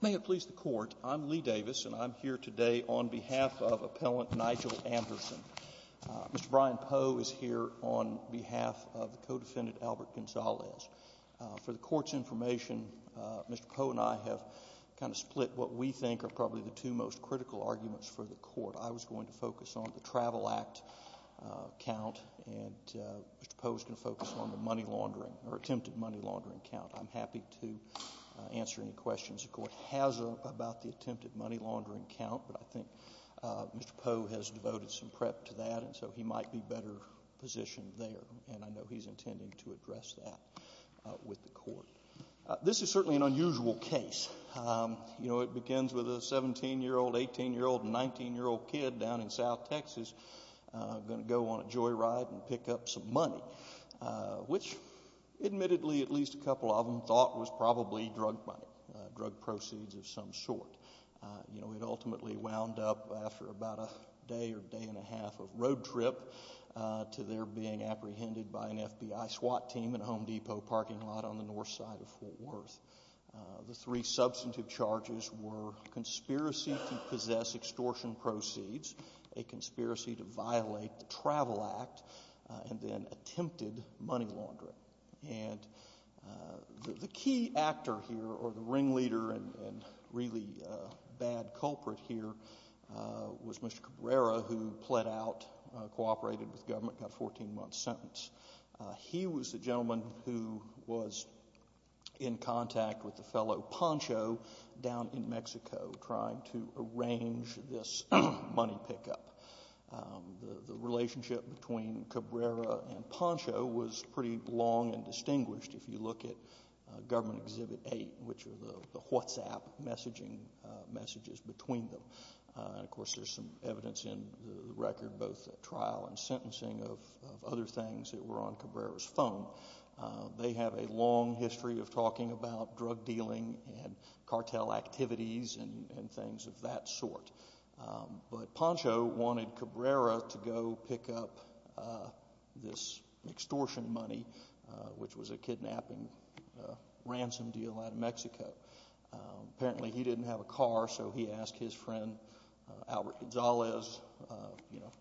May it please the Court, I'm Lee Davis and I'm here today on behalf of Appellant Nygul Gonzalez. For the Court's information, Mr. Poe and I have kind of split what we think are probably the two most critical arguments for the Court. I was going to focus on the Travel Act count and Mr. Poe was going to focus on the money laundering or attempted money laundering count. I'm happy to answer any questions the Court has about the attempted money laundering count, but I think Mr. Poe has devoted some prep to that and so he might be better positioned there and I know he's intending to address that with the Court. This is certainly an unusual case. It begins with a 17-year-old, 18-year-old and 19-year-old kid down in South Texas going to go on a joyride and pick up some money, which admittedly at least a couple of them thought was probably drug money, drug proceeds of some sort. It ultimately wound up after about a day or day and a half of road trip to their being apprehended by an FBI SWAT team in a Home Depot parking lot on the north side of Fort Worth. The three substantive charges were conspiracy to possess extortion proceeds, a conspiracy to violate the Travel Act, and then attempted money laundering. And the key actor here, or the ringleader and really bad culprit here, was Mr. Cabrera who pled out, cooperated with government, got a 14-month sentence. He was the gentleman who was in contact with the fellow Pancho down in Mexico trying to arrange this money pickup. The relationship between Cabrera and Pancho was pretty long and distinguished if you look at Government Exhibit 8, which are the WhatsApp messaging messages between them. And of course there's some evidence in the record, both trial and sentencing of other things that were on Cabrera's phone. They have a long history of talking about drug dealing and cartel activities and this extortion money, which was a kidnapping ransom deal out of Mexico. Apparently he didn't have a car, so he asked his friend Albert Gonzalez, you know,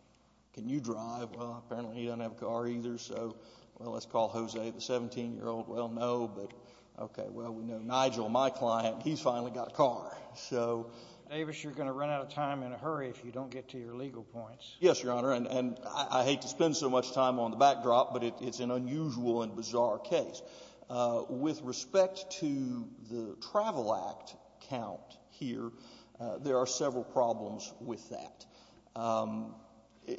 can you drive? Well, apparently he doesn't have a car either, so let's call Jose, the 17-year-old. Well, no, but okay, well, we know Nigel, my client, he's finally got a car. So... Davis, you're going to run out of time in a hurry if you don't get to your legal points. Yes, Your Honor, and I hate to spend so much time on the backdrop, but it's an unusual and bizarre case. With respect to the Travel Act count here, there are several problems with that.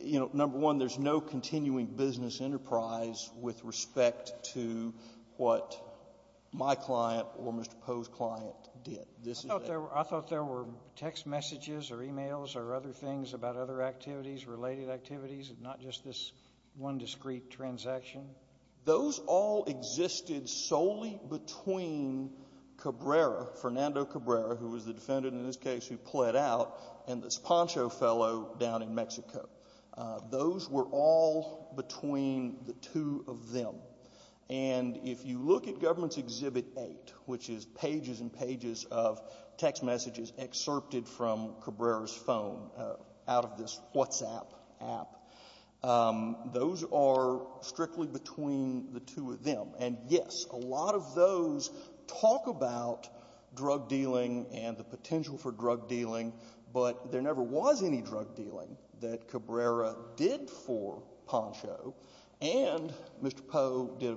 You know, number one, there's no continuing business enterprise with respect to what my client or Mr. Poe's client did. I thought there were text messages or emails or other things about other activities, related activities, not just this one discrete transaction. Those all existed solely between Cabrera, Fernando Cabrera, who was the defendant in this case who pled out, and this Poncho fellow down in Mexico. Those were all between the two of them, and, yes, a lot of those talk about drug dealing and the potential for drug dealing, but there never was any drug dealing that Cabrera did for Poncho, and Mr. Poe did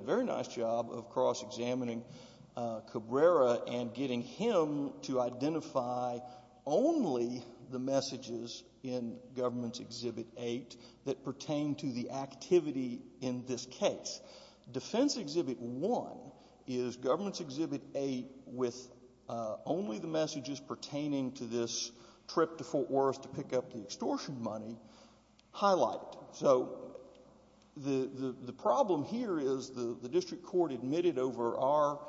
identify only the messages in Government's Exhibit 8 that pertain to the activity in this case. Defense Exhibit 1 is Government's Exhibit 8 with only the messages pertaining to this trip to Fort Worth to pick up the extortion money highlighted. So the problem here is the district court admitted over our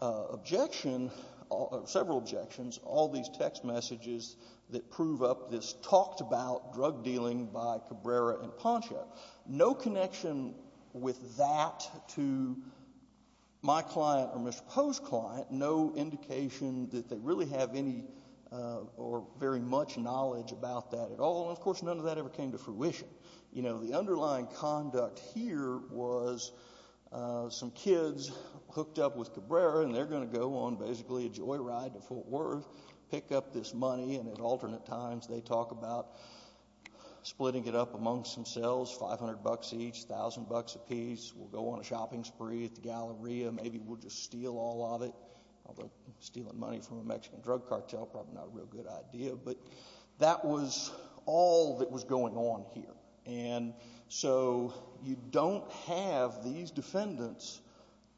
objection, several objections, all these text messages that prove up this talked about drug dealing by Cabrera and Poncho. No connection with that to my client or Mr. Poe's client, no indication that they really have any or very much knowledge about that at all, and, of course, none of that ever came to fruition. You know, the underlying conduct here was some kids hooked up with Cabrera, and they're going to go on basically a joyride to Fort Worth, pick up this money, and at alternate times they talk about splitting it up amongst themselves, 500 bucks each, 1,000 bucks apiece. We'll go on a shopping spree at the Galleria. Maybe we'll just steal all of it, although stealing money from a Mexican drug cartel, probably not a real good idea, but that was all that was going on here. And so you don't have these defendants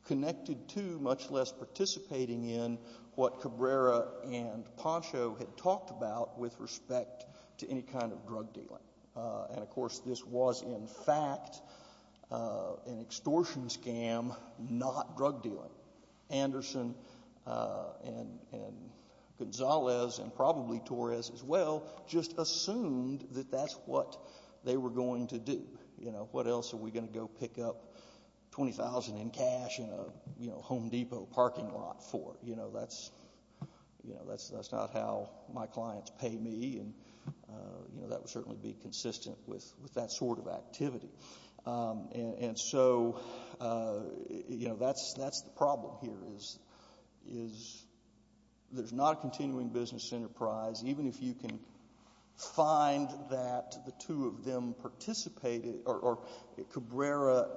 connected to, much less participating in, what Cabrera and Poncho had talked about with respect to any kind of drug dealing. And, of course, this was, in fact, an extortion scam, not drug dealing. Anderson and Gonzalez and probably Torres as well just assumed that that's what they were going to do. What else are we going to go pick up 20,000 in cash in a Home Depot parking lot for? That's not how my clients pay me, and that would certainly be consistent with that sort of activity. And so that's the problem here is there's not a continuing business enterprise. Even if you can find that the two of them participated, or Cabrera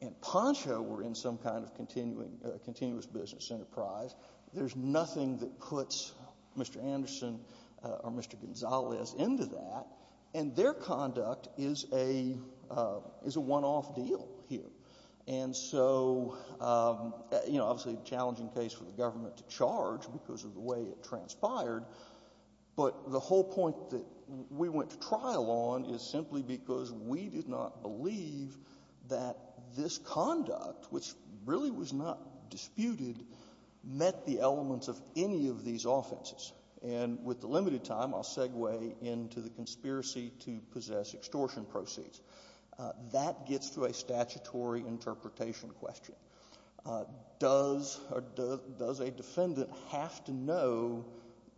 and Poncho were in some kind of continuous business enterprise, there's nothing that is going on here. And so, you know, obviously a challenging case for the government to charge because of the way it transpired, but the whole point that we went to trial on is simply because we did not believe that this conduct, which really was not disputed, met the elements of any of these offenses. And with the limited time, I'll segue into the conspiracy to possess extortion proceeds. That gets to a statutory interpretation question. Does a defendant have to know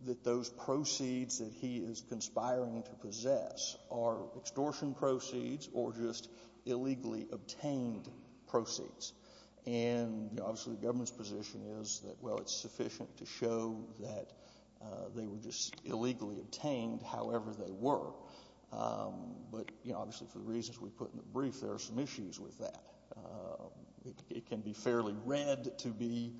that those proceeds that he is conspiring to possess are extortion proceeds or just illegally obtained proceeds? And obviously the government's position is that, well, it's sufficient to show that they were just illegally obtained however they were. But, you know, obviously for the reasons we put in the brief, there are some issues with that. It can be fairly read to be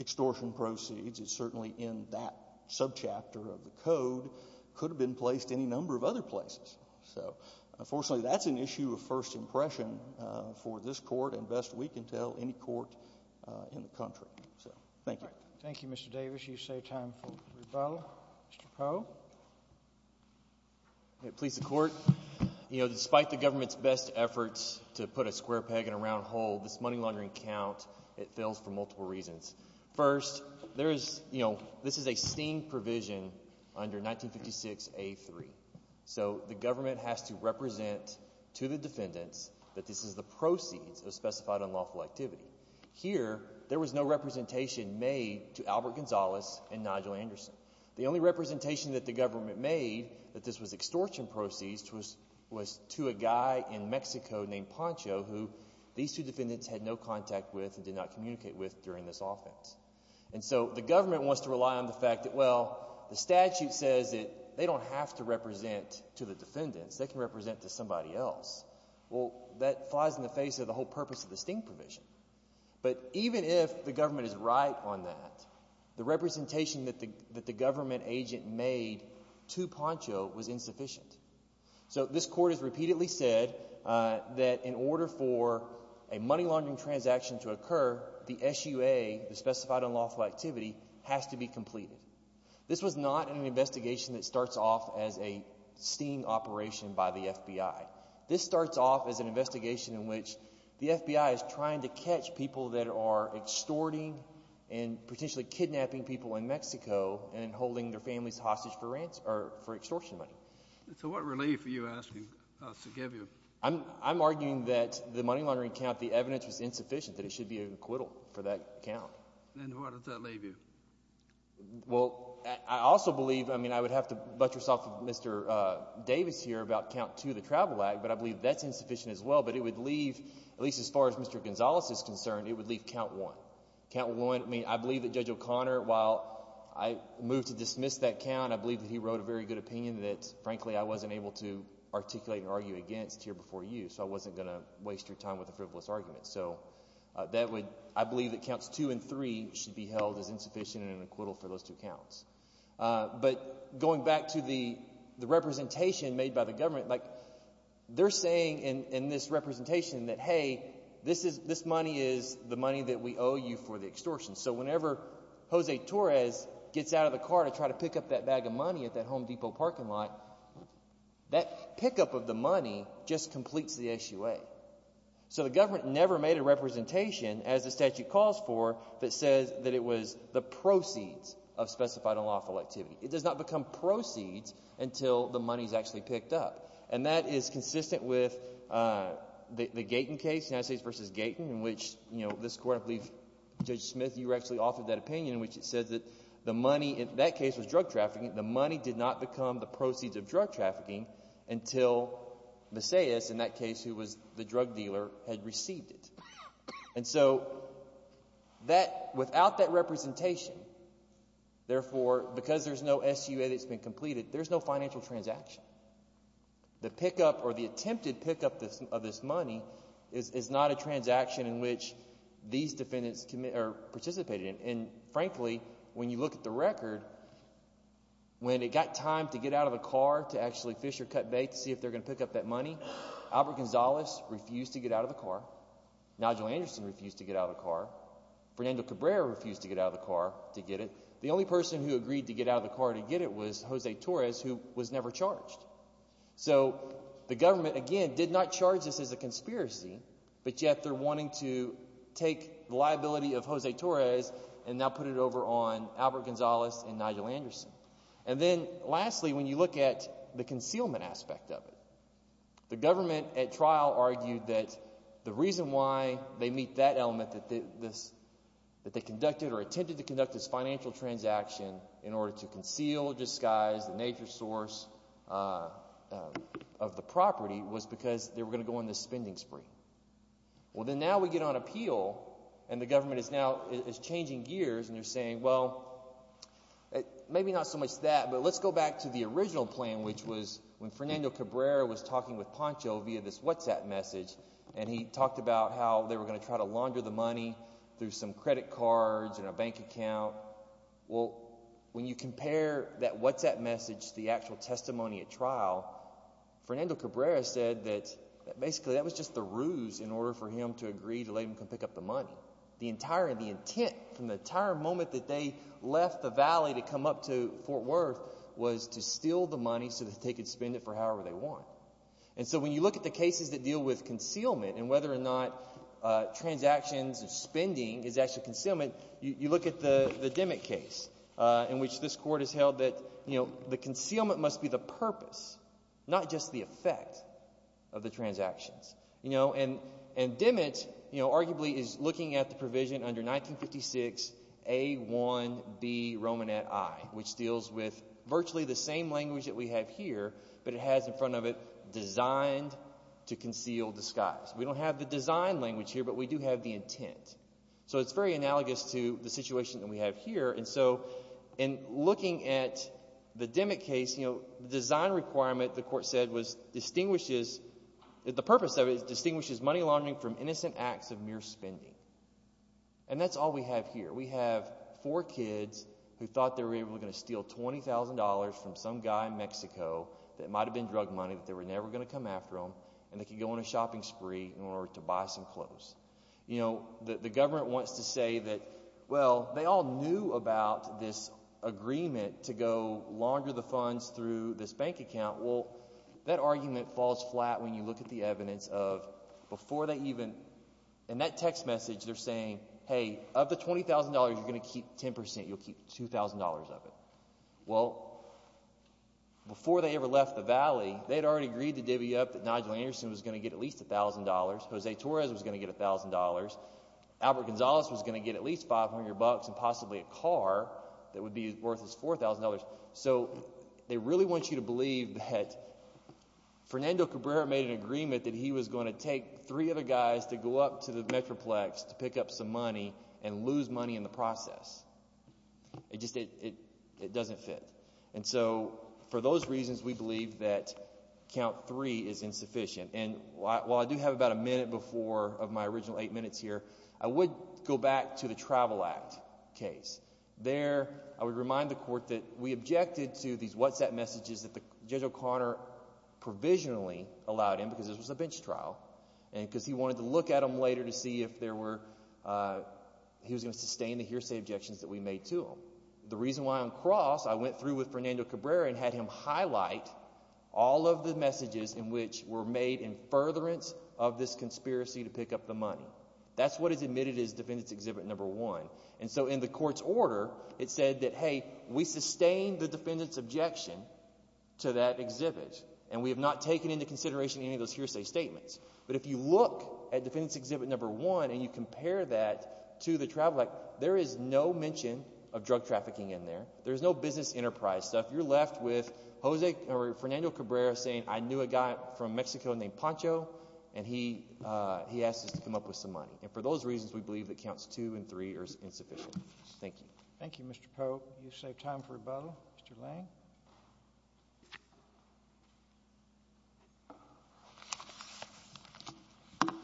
extortion proceeds. It's certainly in that subchapter of the code. Could have been placed any number of other places. So, unfortunately, that's an issue of first impression for this court and best we can tell any court in the country. So, thank you. Thank you, Mr. Davis. You've saved time for rebuttal. Mr. Poe. Please support, you know, despite the government's best efforts to put a square peg in a round hole, this money laundering count, it fails for multiple reasons. First, there is, you know, this is a steam provision under 1956A3. So, the government has to represent to the defendants that this is the proceeds of specified unlawful activity. Here, there was no representation made to Albert Gonzalez and Nigel Anderson. The only representation that the government made that this was extortion proceeds was to a guy in Mexico named Poncho who these two defendants had no contact with and did not communicate with during this offense. And so, the government wants to rely on the fact that, well, the statute says that they don't have to represent to the defendants. They can represent to somebody else. Well, that flies in the face of the whole purpose of the steam provision. But even if the government is right on that, the representation that the government agent made to Poncho was insufficient. So, this court has repeatedly said that in order for a money laundering transaction to occur, the SUA, the specified unlawful activity, has to be completed. This was not an investigation that starts off as a steam operation by the FBI. This starts off as an investigation in which the FBI is trying to catch people that are extorting and potentially kidnapping people in Mexico and holding their families hostage for extortion money. So, what relief are you asking us to give you? I'm arguing that the money laundering count, the evidence was insufficient that it should be an acquittal for that count. And where does that leave you? Well, I also believe, I mean, I would have to butt yourself with Mr. Davis here about count two, the travel act, but I believe that's insufficient as well. But it would leave, at least as far as Mr. Gonzalez is concerned, it would leave count one. Count one, I mean, I believe that Judge O'Connor, while I moved to dismiss that count, I believe that he wrote a very good opinion that, frankly, I wasn't able to articulate or argue against here before you, so I wasn't going to waste your time with a frivolous argument. So, that would, I believe that counts two and three should be held as insufficient and an acquittal for those two counts. But going back to the representation made by the government, like, they're saying in this representation that, hey, this money is the money that we owe you for the extortion. So whenever Jose Torres gets out of the car to try to pick up that bag of money at that Home Depot parking lot, that pickup of the money just completes the SUA. So the government never made a representation, as the statute calls for, that says that it was the proceeds of specified unlawful activity. It does not become proceeds until the money is actually picked up. And that is consistent with the Gaten case, United States v. Gaten, in which this Court, I believe, Judge Smith, you actually authored that opinion in which it says that the money, in that case, was drug trafficking, the money did not become the proceeds of drug trafficking until Maceias, in that case, who was the drug dealer, had received it. And so that, without that representation, therefore, because there's no SUA that's been completed, there's no financial transaction. The pickup or the attempted pickup of this money is not a transaction in which these defendants participated in. And, frankly, when you look at the record, when it got time to get out of the car to actually fish or cut bait to see if they're going to pick up that money, Albert Gonzalez refused to get out of the car. Nigel Anderson refused to get out of the car. Fernando Cabrera refused to get out of the car to get it. The only person who agreed to get out of the car to get it was Jose Torres, who was never charged. So the government, again, did not charge this as a conspiracy, but yet they're wanting to take the liability of Jose Torres and now put it over on Albert Gonzalez and Nigel Anderson. And then, lastly, when you look at the concealment aspect of it, the government at trial argued that the reason why they meet that element, that they conducted or attempted to conduct this of the property, was because they were going to go on this spending spree. Well, then now we get on appeal and the government is now is changing gears and they're saying, well, maybe not so much that, but let's go back to the original plan, which was when Fernando Cabrera was talking with Poncho via this WhatsApp message, and he talked about how they were going to try to launder the money through some credit cards and a bank account. Well, when you compare that WhatsApp message to the actual testimony at trial, Fernando Cabrera said that basically that was just the ruse in order for him to agree to let him come pick up the money. The entire intent from the entire moment that they left the valley to come up to Fort Worth was to steal the money so that they could spend it for however they want. And so when you look at the cases that deal with concealment and whether or not transactions and spending is actually concealment, you look at the that, you know, the concealment must be the purpose, not just the effect of the transactions. You know, and, and Dimit, you know, arguably is looking at the provision under 1956 A1B Romanet I, which deals with virtually the same language that we have here, but it has in front of it designed to conceal disguise. We don't have the design language here, but we do have the intent. So it's very analogous to the situation that we have here. And so in looking at the Dimit case, you know, the design requirement, the court said was distinguishes that the purpose of it is distinguishes money laundering from innocent acts of mere spending. And that's all we have here. We have four kids who thought they were able to going to steal $20,000 from some guy in Mexico that might've been drug money, but they were never going to come after them. And they could go on a shopping spree in order to buy some clothes. You know, the government wants to say that, well, they all knew about this agreement to go longer, the funds through this bank account. Well, that argument falls flat. When you look at the evidence of before they even, and that text message, they're saying, Hey, of the $20,000, you're going to keep 10%. You'll keep $2,000 of it. Well, before they ever left the Valley, they'd already agreed to divvy up that Nigel Anderson was going to get at least a thousand dollars. Jose Torres was going to get a thousand dollars. Albert Gonzalez was going to get at least 500 bucks and possibly a car that would be worth his $4,000. So they really want you to believe that Fernando Cabrera made an agreement that he was going to take three other guys to go up to the Metroplex to pick up some money and lose money in the process. It just, it doesn't fit. And so for those reasons, we believe that count three is insufficient. And while I do have about a minute before of my original eight minutes here, I would go back to the Travel Act case. There, I would remind the court that we objected to these WhatsApp messages that Judge O'Connor provisionally allowed him because this was a bench trial and because he wanted to look at them later to see if there were, he was going to sustain the hearsay objections that we made to the reason why on cross, I went through with Fernando Cabrera and had him highlight all of the messages in which were made in furtherance of this conspiracy to pick up the money. That's what is admitted as defendant's exhibit number one. And so in the court's order, it said that, hey, we sustained the defendant's objection to that exhibit, and we have not taken into consideration any of those hearsay statements. But if you look at defendant's exhibit number one and you compare that to the Travel Act, there is no mention of drug trafficking in there. There's no business enterprise stuff. You're left with Jose or Fernando Cabrera saying, I knew a guy from Mexico named Pancho, and he asked us to come up with some money. And for those reasons, we believe that counts two and three are insufficient. Thank you. Thank you, Mr. Pope. You save time for rebuttal. Mr. Lang.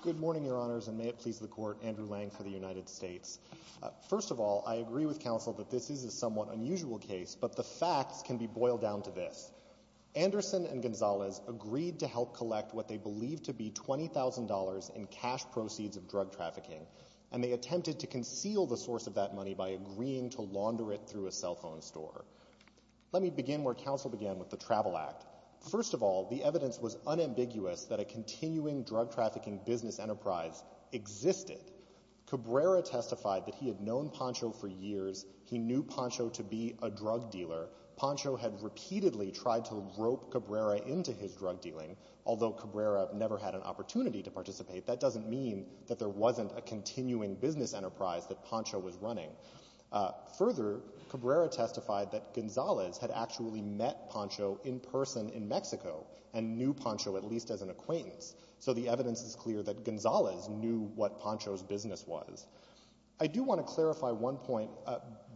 Good morning, Your Honors, and may it please the Court, Andrew Lang for the United States. First of all, I agree with counsel that this is a somewhat unusual case, but the facts can be boiled down to this. Anderson and Gonzalez agreed to help collect what they believe to be $20,000 in cash proceeds of drug trafficking, and they attempted to conceal the source of that where counsel began with the Travel Act. First of all, the evidence was unambiguous that a continuing drug trafficking business enterprise existed. Cabrera testified that he had known Pancho for years. He knew Pancho to be a drug dealer. Pancho had repeatedly tried to rope Cabrera into his drug dealing. Although Cabrera never had an opportunity to participate, that doesn't mean that there wasn't a continuing business enterprise that Pancho was running. Further, Cabrera testified that Gonzalez had actually met Pancho in person in Mexico and knew Pancho at least as an acquaintance, so the evidence is clear that Gonzalez knew what Pancho's business was. I do want to clarify one point.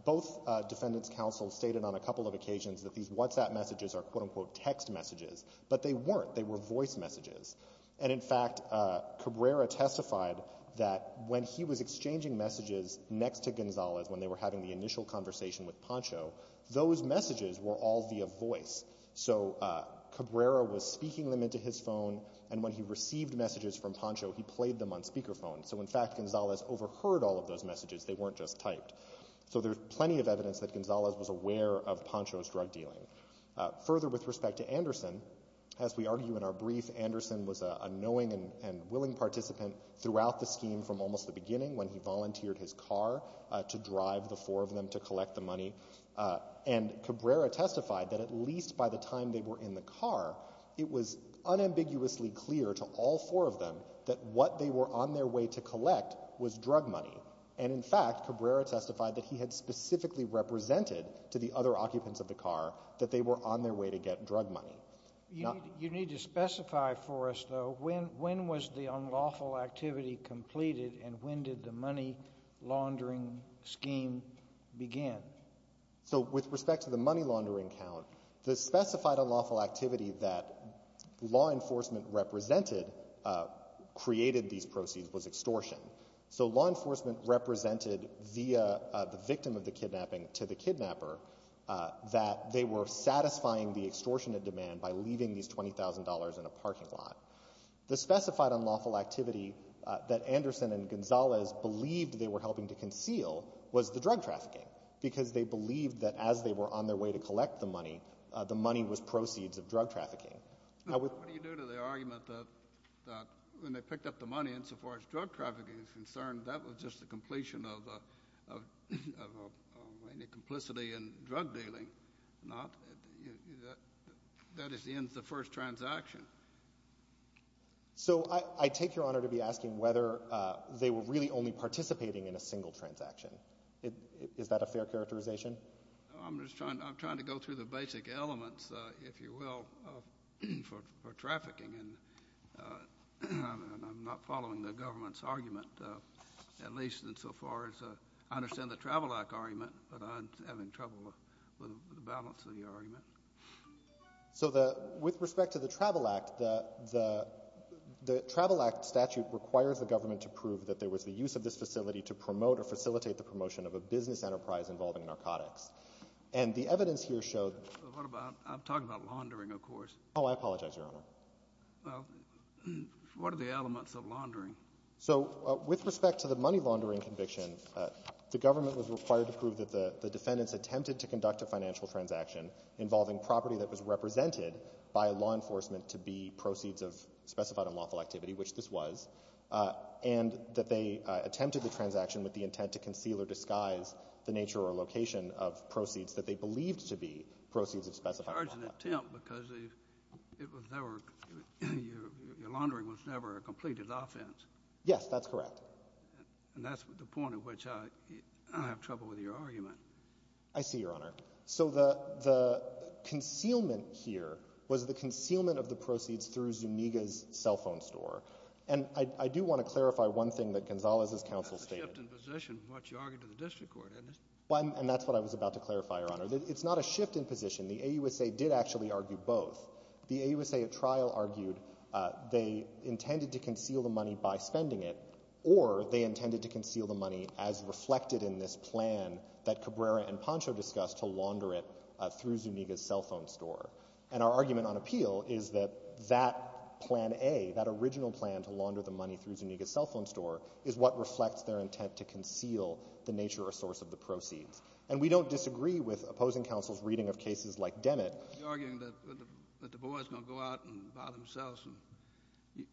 Both defendants' counsels stated on a couple of occasions that these WhatsApp messages are quote-unquote text messages, but they weren't. They were voice messages. And in fact, Cabrera testified that when he was exchanging messages next to Gonzalez, when they were having the initial conversation with Pancho, those messages were all via voice. So Cabrera was speaking them into his phone, and when he received messages from Pancho, he played them on speakerphone. So in fact, Gonzalez overheard all of those messages. They weren't just typed. So there's plenty of evidence that Gonzalez was aware of Pancho's drug dealing. Further, with respect to Anderson, as we argue in our brief, Anderson was a knowing and willing participant throughout the scheme from almost the beginning when he volunteered his car to drive the four of them to collect the money. And Cabrera testified that at least by the time they were in the car, it was unambiguously clear to all four of them that what they were on their way to collect was drug money. And in fact, Cabrera testified that he had specifically represented to the other occupants of the car that they were on their way to get drug money. You need to specify for us, though, when was the unlawful activity completed, and when did the money laundering scheme begin? So with respect to the money laundering count, the specified unlawful activity that law enforcement represented created these proceeds was extortion. So law enforcement represented via the victim of the kidnapping to the kidnapper that they were satisfying the extortionate demand by leaving these $20,000 in a parking lot. The specified unlawful activity that Anderson and Gonzalez believed they were helping to conceal was the drug trafficking, because they believed that as they were on their way to collect the money, the money was proceeds of drug trafficking. What do you do to the argument that when they picked up the money, insofar as drug trafficking is concerned, that was just the completion of any complicity in drug dealing? No, that is the end of the first transaction. So I take your honor to be asking whether they were really only participating in a single transaction. Is that a fair characterization? I'm just trying to go through the basic elements, if you will, for trafficking. And I'm not following the government's argument, at least insofar as I understand the Travel Act argument, but I'm having trouble with the balance of the argument. So with respect to the Travel Act, the Travel Act statute requires the government to prove that there was the use of this facility to promote or facilitate the promotion of a business enterprise involving narcotics. And the evidence here showed... I'm talking about laundering, of course. Oh, I apologize, your honor. Well, what are the elements of laundering? So with respect to the money laundering conviction, the government was required to prove that the defendants attempted to conduct a financial transaction involving property that was represented by law enforcement to be proceeds of specified unlawful activity, which this was, and that they attempted the transaction with the intent to conceal or disguise the nature or location of proceeds that they believed to be proceeds of specified unlawful Yes, that's correct. And that's the point at which I have trouble with your argument. I see, your honor. So the concealment here was the concealment of the proceeds through Zuniga's cell phone store. And I do want to clarify one thing that Gonzalez's counsel stated. That's a shift in position from what you argued to the district court, isn't it? And that's what I was about to clarify, your honor. It's not a shift in position. The AUSA did actually argue both. The AUSA trial argued they intended to conceal the money by spending it, or they intended to conceal the money as reflected in this plan that Cabrera and Pancho discussed to launder it through Zuniga's cell phone store. And our argument on appeal is that that plan A, that original plan to launder the money through Zuniga's cell phone store is what reflects their intent to conceal the nature or source of the proceeds. And we don't disagree with opposing counsel's reading of cases like Dennett. You're arguing that the boys are going to go out and buy themselves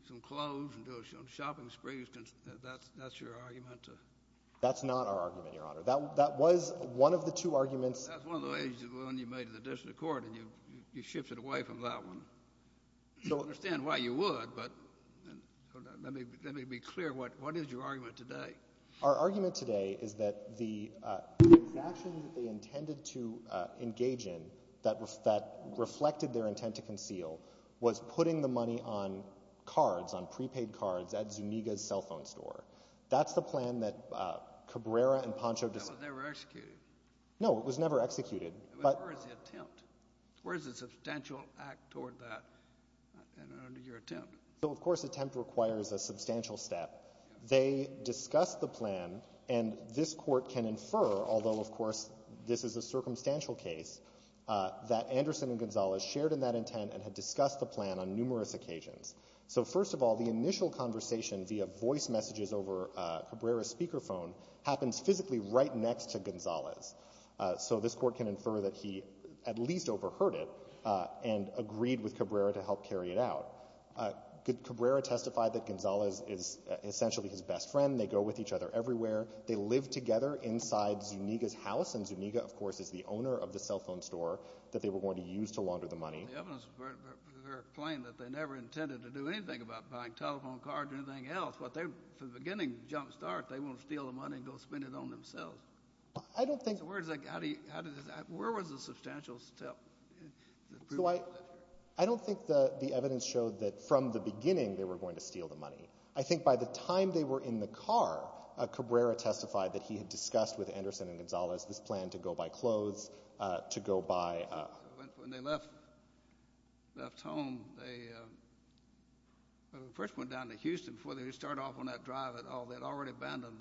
some clothes and do some shopping sprees. That's your argument? That's not our argument, your honor. That was one of the two arguments. That's one of the ways you made it to the district court, and you shifted away from that one. I don't understand why you would, but let me be clear. What is your argument today? Our argument today is that the transaction that they intended to engage in that reflected their intent to conceal was putting the money on cards, on prepaid cards, at Zuniga's cell phone store. That's the plan that Cabrera and Pancho discussed. That was never executed? No, it was never executed. But where is the attempt? Where is the substantial act toward that under your attempt? So, of course, attempt requires a substantial step. They discussed the plan, and this court can infer, although of course this is a circumstantial case, that Anderson and Gonzalez shared in that intent and had discussed the plan on numerous occasions. So first of all, the initial conversation via voice messages over Cabrera's speakerphone happens physically right next to Gonzalez. So this court can infer that he at least overheard it and agreed with it. Cabrera testified that Gonzalez is essentially his best friend. They go with each other everywhere. They live together inside Zuniga's house, and Zuniga, of course, is the owner of the cell phone store that they were going to use to launder the money. The evidence is very plain that they never intended to do anything about buying telephone cards or anything else. From the beginning, jumpstart, they want to steal the money and go spend it on themselves. So where was the substantial step? So I don't think the evidence showed that from the beginning they were going to steal the money. I think by the time they were in the car, Cabrera testified that he had discussed with Anderson and Gonzalez this plan to go buy clothes, to go buy— When they left home, when they first went down to Houston, before they started off on that drive at all, they had already abandoned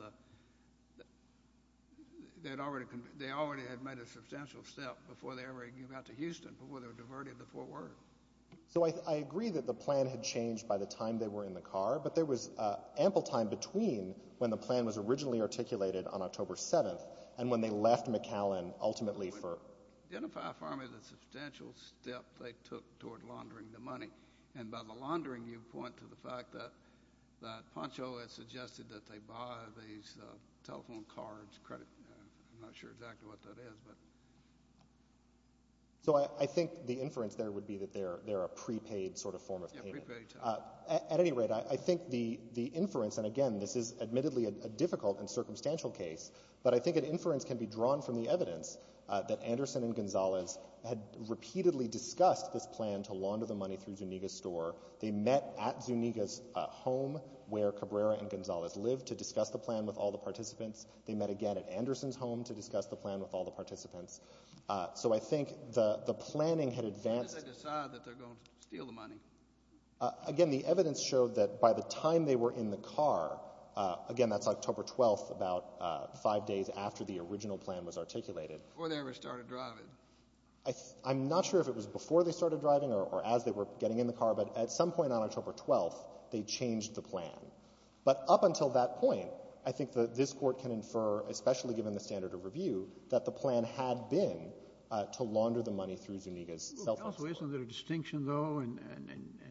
the—they already had made a substantial step before they ever got to Houston, before they were diverted to Fort Worth. So I agree that the plan had changed by the time they were in the car, but there was an ample time between when the plan was originally articulated on October 7th and when they left McAllen ultimately for— Identify for me the substantial step they took toward laundering the money. And by the laundering, you point to the fact that Pancho had suggested that they buy these telephone cards, credit—I'm not sure exactly what that is, but— So I think the inference there would be that they're a prepaid sort of form of payment. Yeah, prepaid, yeah. At any rate, I think the inference—and again, this is admittedly a difficult and circumstantial case—but I think an inference can be drawn from the evidence that Anderson and Gonzalez had repeatedly discussed this plan to launder the money through Zuniga's store. They met at Zuniga's home, where Cabrera and Gonzalez lived, to discuss the plan with all the participants. They met again at Anderson's home to discuss the plan with all the participants. So I think the planning had advanced— When did they decide that they're going to steal the money? Again, the evidence showed that by the time they were in the car—again, that's October 12th, about five days after the original plan was articulated— Before they ever started driving. I'm not sure if it was before they started driving or as they were getting in the car, but at some point on October 12th, they changed the plan. But up until that point, I think that this Court can infer, especially given the standard of review, that the plan had been to launder the money through Zuniga's cell phone store. Well, there's also a distinction, though, and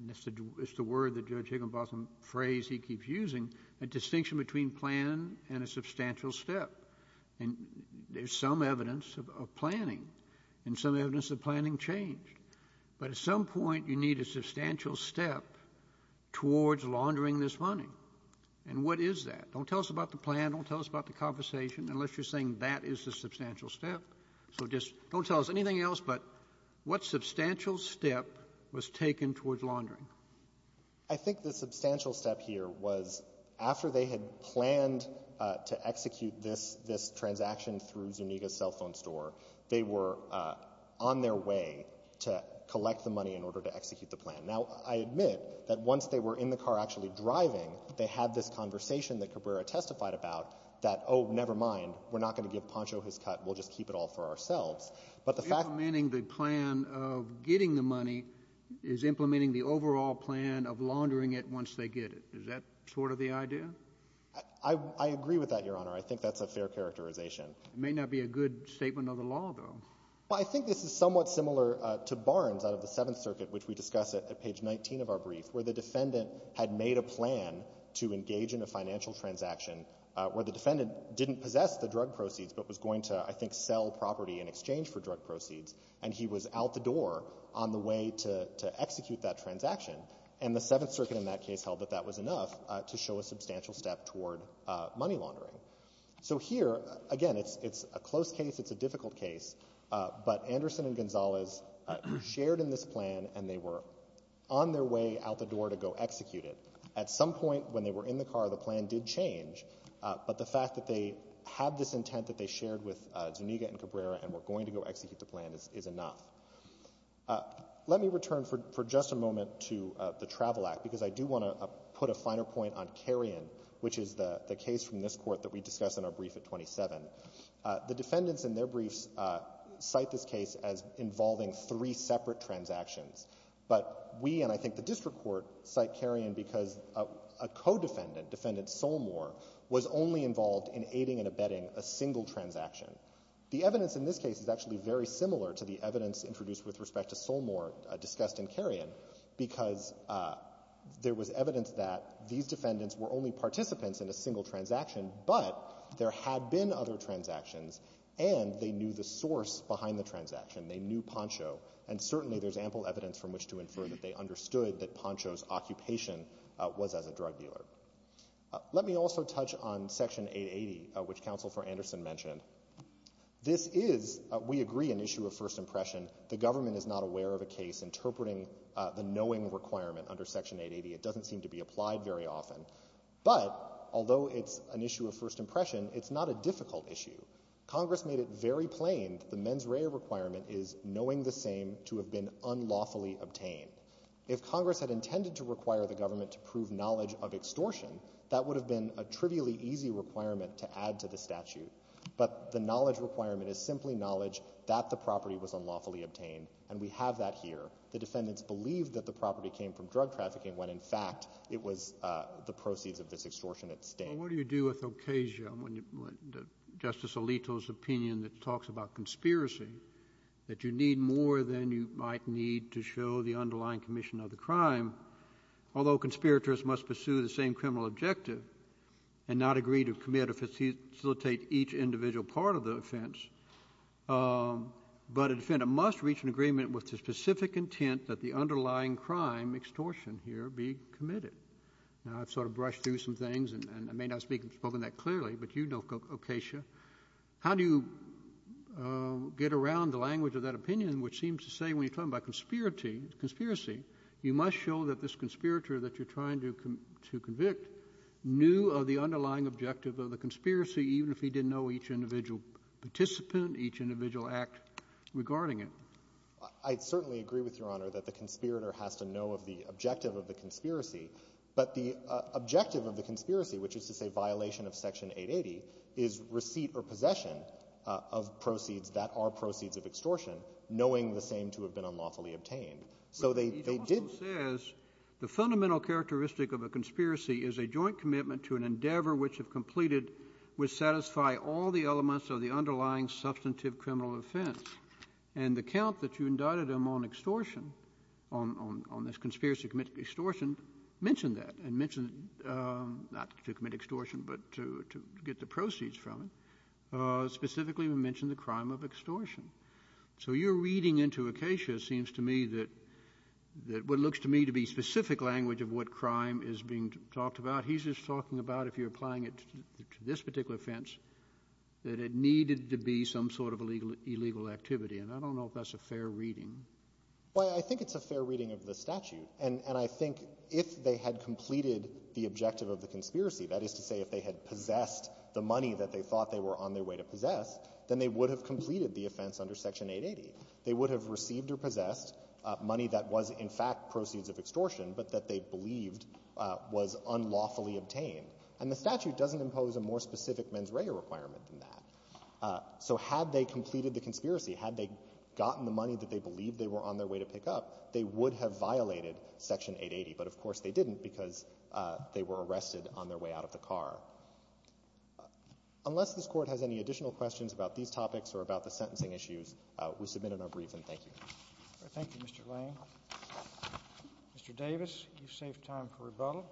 it's the word that Judge Higginbotham phrase he keeps using, a distinction between plan and a substantial step. And there's some evidence of planning, and some evidence of planning changed. But at some point, you need a substantial step towards laundering this money. And what is that? Don't tell us about the plan, don't tell us about the conversation, unless you're saying that is the substantial step. So just don't tell us anything else, but what substantial step was taken towards laundering? I think the substantial step here was after they had planned to execute this transaction through Zuniga's cell phone store, they were on their way to collect the money in order to have this conversation that Cabrera testified about, that, oh, never mind, we're not going to give Pancho his cut, we'll just keep it all for ourselves. But the fact— Implementing the plan of getting the money is implementing the overall plan of laundering it once they get it. Is that sort of the idea? I agree with that, Your Honor. I think that's a fair characterization. It may not be a good statement of the law, though. But I think this is somewhat similar to Barnes out of the Seventh Circuit, which we discuss at page 19 of our brief, where the defendant had made a plan to engage in a financial transaction where the defendant didn't possess the drug proceeds but was going to, I think, sell property in exchange for drug proceeds, and he was out the door on the way to execute that transaction. And the Seventh Circuit in that case held that that was enough to show a substantial step toward money laundering. So here, again, it's a close case, it's a difficult case, but Anderson and Gonzalez shared in this plan and they were on their way out the door to go execute it. At some point when they were in the car, the plan did change, but the fact that they had this intent that they shared with Zuniga and Cabrera and were going to go execute the plan is enough. Let me return for just a moment to the Travel Act because I do want to put a finer point on carrion, which is the case from this Court that we discuss in our brief at 27. The defendants in their briefs cite this case as involving three separate transactions, but we, and I think the District Court, cite carrion because a co-defendant, Defendant Solmore, was only involved in aiding and abetting a single transaction. The evidence in this case is actually very similar to the evidence introduced with respect to Solmore discussed in carrion because there was evidence that these defendants were only participants in a single transaction, but there had been other transactions and they knew the source behind the transaction. They knew Poncho, and certainly there's ample evidence from which to infer that they understood that Poncho's occupation was as a drug dealer. Let me also touch on Section 880, which Counsel for Anderson mentioned. This is, we agree, an issue of first impression. The government is not aware of a case interpreting the knowing requirement under Section 880. It doesn't seem to be applied very often, but although it's an issue of first impression, it's not a difficult issue. Congress made it very plain that the mens rea requirement is knowing the same to have been unlawfully obtained. If Congress had intended to require the government to prove knowledge of extortion, that would have been a trivially easy requirement to add to the statute, but the knowledge requirement is simply knowledge that the property was unlawfully obtained, and we have that here. The defendants believed that the property came from drug trafficking when, in fact, it was the proceeds of this extortion at stake. What do you do with occasion when Justice Alito's opinion that talks about conspiracy, that you need more than you might need to show the underlying commission of the crime, although conspirators must pursue the same criminal objective and not agree to commit or facilitate each individual part of the offense, but a defendant must reach an agreement with the specific intent that the underlying crime extortion here be committed? Now, I've sort of brushed through some things, and I may not have spoken that clearly, but you know Ocasio. How do you get around the language of that opinion, which seems to say when you're talking about conspiracy, you must show that this conspirator that you're trying to convict knew of the underlying objective of the conspiracy, even if he didn't know each individual participant, each individual act regarding it? I certainly agree with Your Honor that the conspirator has to know of the objective of the conspiracy. But the objective of the conspiracy, which is to say violation of Section 880, is receipt or possession of proceeds that are proceeds of extortion, knowing the same to have been unlawfully obtained. So they did— But Ocasio says the fundamental characteristic of a conspiracy is a joint commitment to an endeavor which, if completed, would satisfy all the elements of the underlying substantive criminal offense. And the count that you indicted him on extortion, on this conspiracy to commit extortion, mentioned that, and mentioned not to commit extortion, but to get the proceeds from it. Specifically, we mentioned the crime of extortion. So your reading into Ocasio seems to me that what looks to me to be specific language of what crime is being talked about, he's just talking about if you're applying it to this activity. And I don't know if that's a fair reading. Well, I think it's a fair reading of the statute. And I think if they had completed the objective of the conspiracy, that is to say if they had possessed the money that they thought they were on their way to possess, then they would have completed the offense under Section 880. They would have received or possessed money that was, in fact, proceeds of extortion, but that they believed was unlawfully obtained. And the statute doesn't impose a more specific mens rea requirement than that. So had they completed the conspiracy, had they gotten the money that they believed they were on their way to pick up, they would have violated Section 880. But, of course, they didn't because they were arrested on their way out of the car. Unless this Court has any additional questions about these topics or about the sentencing issues, we submit in our brief, and thank you. All right. Thank you, Mr. Lane. Mr. Davis, you've saved time for rebuttal.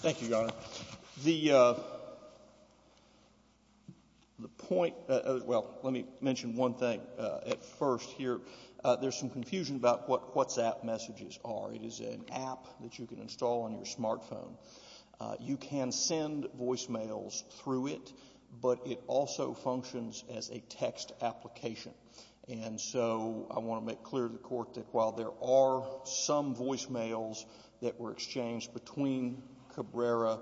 Thank you, Your Honor. The point—well, let me mention one thing at first here. There's some confusion about what WhatsApp messages are. It is an app that you can install on your smartphone. You can send voicemails through it, but it also functions as a text application. And so I want to make clear to the Court that while there are some voicemails that were exchanged between Cabrera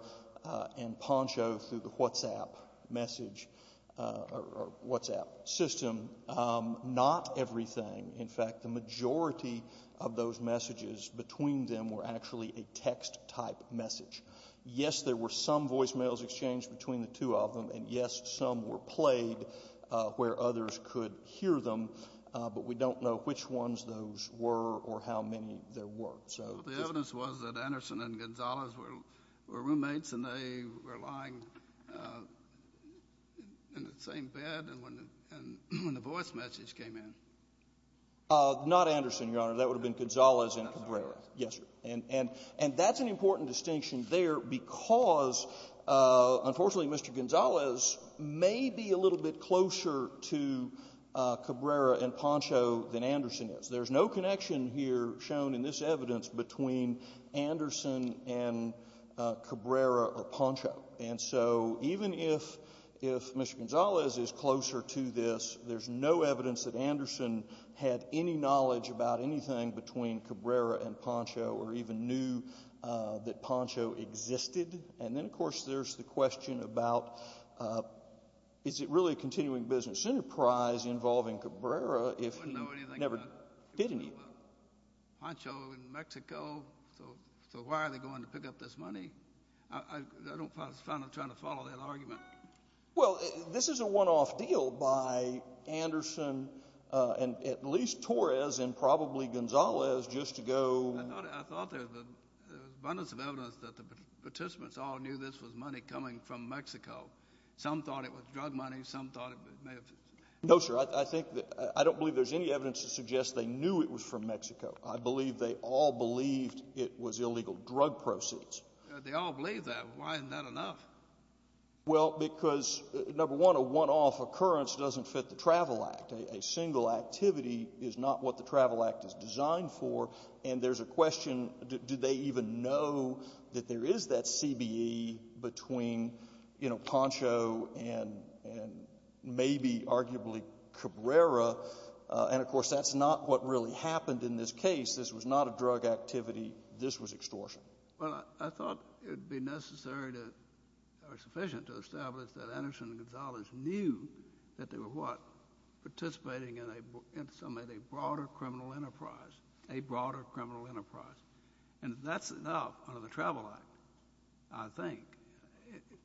and Poncho through the WhatsApp message—or WhatsApp system, not everything. In fact, the majority of those messages between them were actually a text-type message. Yes, there were some voicemails exchanged between the two of them, and yes, some were played where others could hear them, but we don't know which ones those were or how many there were. Well, the evidence was that Anderson and Gonzalez were roommates, and they were lying in the same bed when the voice message came in. Not Anderson, Your Honor. That would have been Gonzalez and Cabrera. Yes, sir. And that's an important distinction there because, unfortunately, Mr. Gonzalez may be a little bit closer to Cabrera and Poncho than Anderson is. There's no connection here shown in this evidence between Anderson and Cabrera or Poncho. And so even if Mr. Gonzalez is closer to this, there's no evidence that Anderson had any knowledge about anything between Cabrera and Poncho or even knew that Poncho existed. And then, of course, there's the question about, is it really a continuing business enterprise involving Cabrera if he never did know anything about Poncho in Mexico? So why are they going to pick up this money? I don't find myself trying to follow that argument. Well, this is a one-off deal by Anderson and at least Torres and probably Gonzalez just to go— I thought there was abundance of evidence that the participants all knew this was money coming from Mexico. Some thought it was drug money. Some thought it may have— No, sir. I think that—I don't believe there's any evidence to suggest they knew it was from Mexico. I believe they all believed it was illegal drug proceeds. They all believed that. Why isn't that enough? Well, because, number one, a one-off occurrence doesn't fit the Travel Act. A single activity is not what the Travel Act is designed for. And there's a question, do they even know that there is that CBE between, you know, Poncho and maybe, arguably, Cabrera? And, of course, that's not what really happened in this case. This was not a drug activity. This was extortion. Well, I thought it would be necessary to—or sufficient to establish that Anderson and Gonzalez knew that they were, what, participating in a broader criminal enterprise, a broader criminal enterprise. And that's enough under the Travel Act, I think.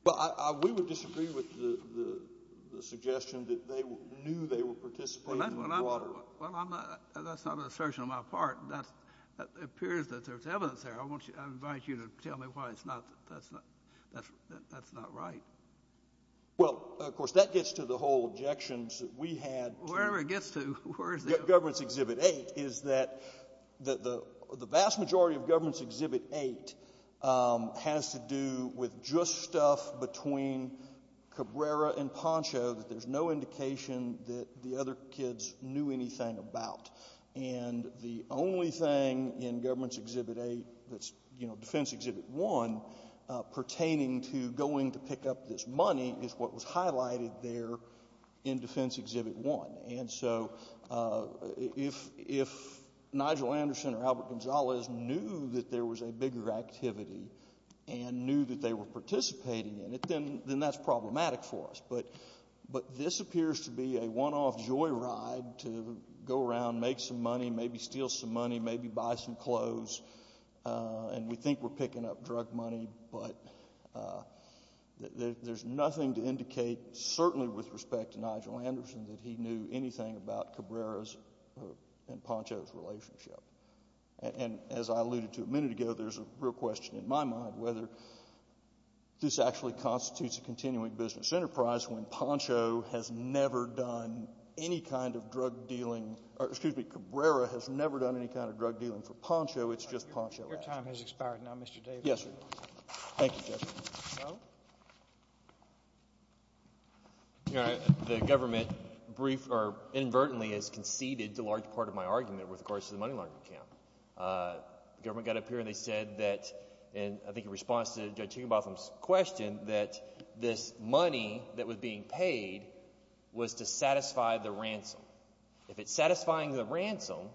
Well, we would disagree with the suggestion that they knew they were participating in a broader— Well, that's not an assertion on my part. That appears that there's evidence there. I want you—I invite you to tell me why it's not—that's not—that's not right. Well, of course, that gets to the whole objections that we had to— Wherever it gets to, where is it? Government's Exhibit 8 is that the vast majority of Government's Exhibit 8 has to do with just stuff between Cabrera and Poncho that there's no indication that the other kids knew anything about. And the only thing in Government's Exhibit 8 that's, you know, Defense Exhibit 1 pertaining to going to pick up this money is what was highlighted there in Defense Exhibit 1. And so if Nigel Anderson or Albert Gonzalez knew that there was a bigger activity and knew that they were participating in it, then that's problematic for us. But this appears to be a one-off joyride to go around, make some money, maybe steal some money, maybe buy some clothes, and we think we're picking up drug money, but there's nothing to indicate, certainly with respect to Nigel Anderson, that he knew anything about Cabrera's and Poncho's relationship. And as I alluded to a minute ago, there's a real question in my mind whether this actually constitutes a continuing business enterprise when Poncho has never done any kind of drug dealing—or, excuse me, Cabrera has never done any kind of drug dealing for Poncho. It's just Poncho. Your time has expired now, Mr. Davis. Yes, sir. Thank you, Judge. You know, the government briefed—or inadvertently has conceded to a large part of my argument with regards to the money laundering camp. The government got up here and they said that—and I think in response to Judge Higginbotham's question—that this money that was being paid was to satisfy the ransom. If it's satisfying the ransom,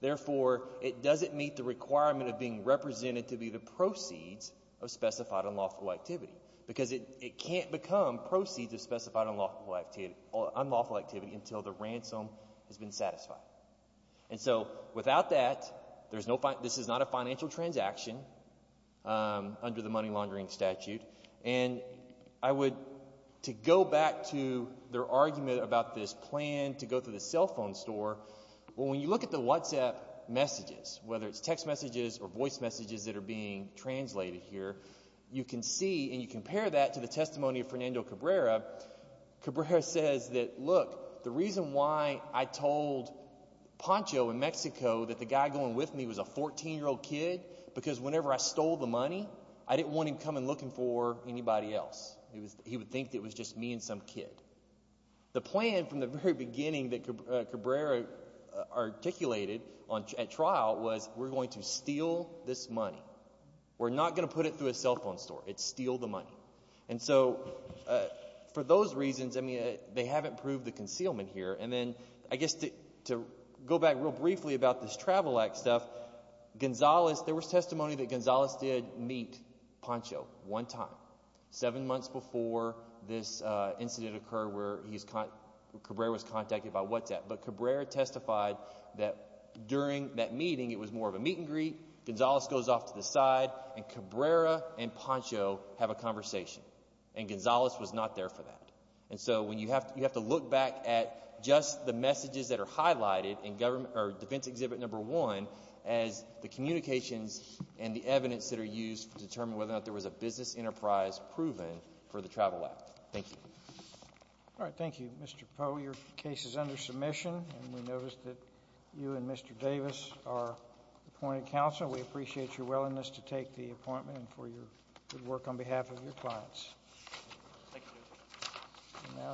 therefore it doesn't meet the requirement of being represented to be the proceeds of specified unlawful activity. Because it can't become proceeds of specified unlawful activity until the ransom has been satisfied. And so without that, there's no—this is not a financial transaction under the money laundering statute. And I would—to go back to their argument about this plan to go through the cell phone store, when you look at the WhatsApp messages, whether it's text messages or voice messages that are being translated here, you can see and you compare that to the testimony of Fernando Cabrera. Cabrera says that, look, the reason why I told Poncho in Mexico that the guy going with me was a 14-year-old kid, because whenever I stole the money, I didn't want him coming looking for anybody else. He would think that it was just me and some kid. The plan from the very beginning that Cabrera articulated at trial was, we're going to steal the money. We're not going to put it through a cell phone store. It's steal the money. And so for those reasons, I mean, they haven't proved the concealment here. And then I guess to go back real briefly about this Travel Act stuff, Gonzales—there was testimony that Gonzales did meet Poncho one time, seven months before this incident occurred where he's—Cabrera was contacted by WhatsApp. But Cabrera testified that during that meeting, it was more of a meet and greet. Gonzales goes off to the side, and Cabrera and Poncho have a conversation. And Gonzales was not there for that. And so you have to look back at just the messages that are highlighted in Defense Exhibit Number 1 as the communications and the evidence that are used to determine whether or not there was a business enterprise proven for the Travel Act. Thank you. All right. Thank you, Mr. Poe. Your case is under submission. And we noticed that you and Mr. Davis are appointed counsel. We appreciate your willingness to take the appointment and for your good work on behalf of your clients.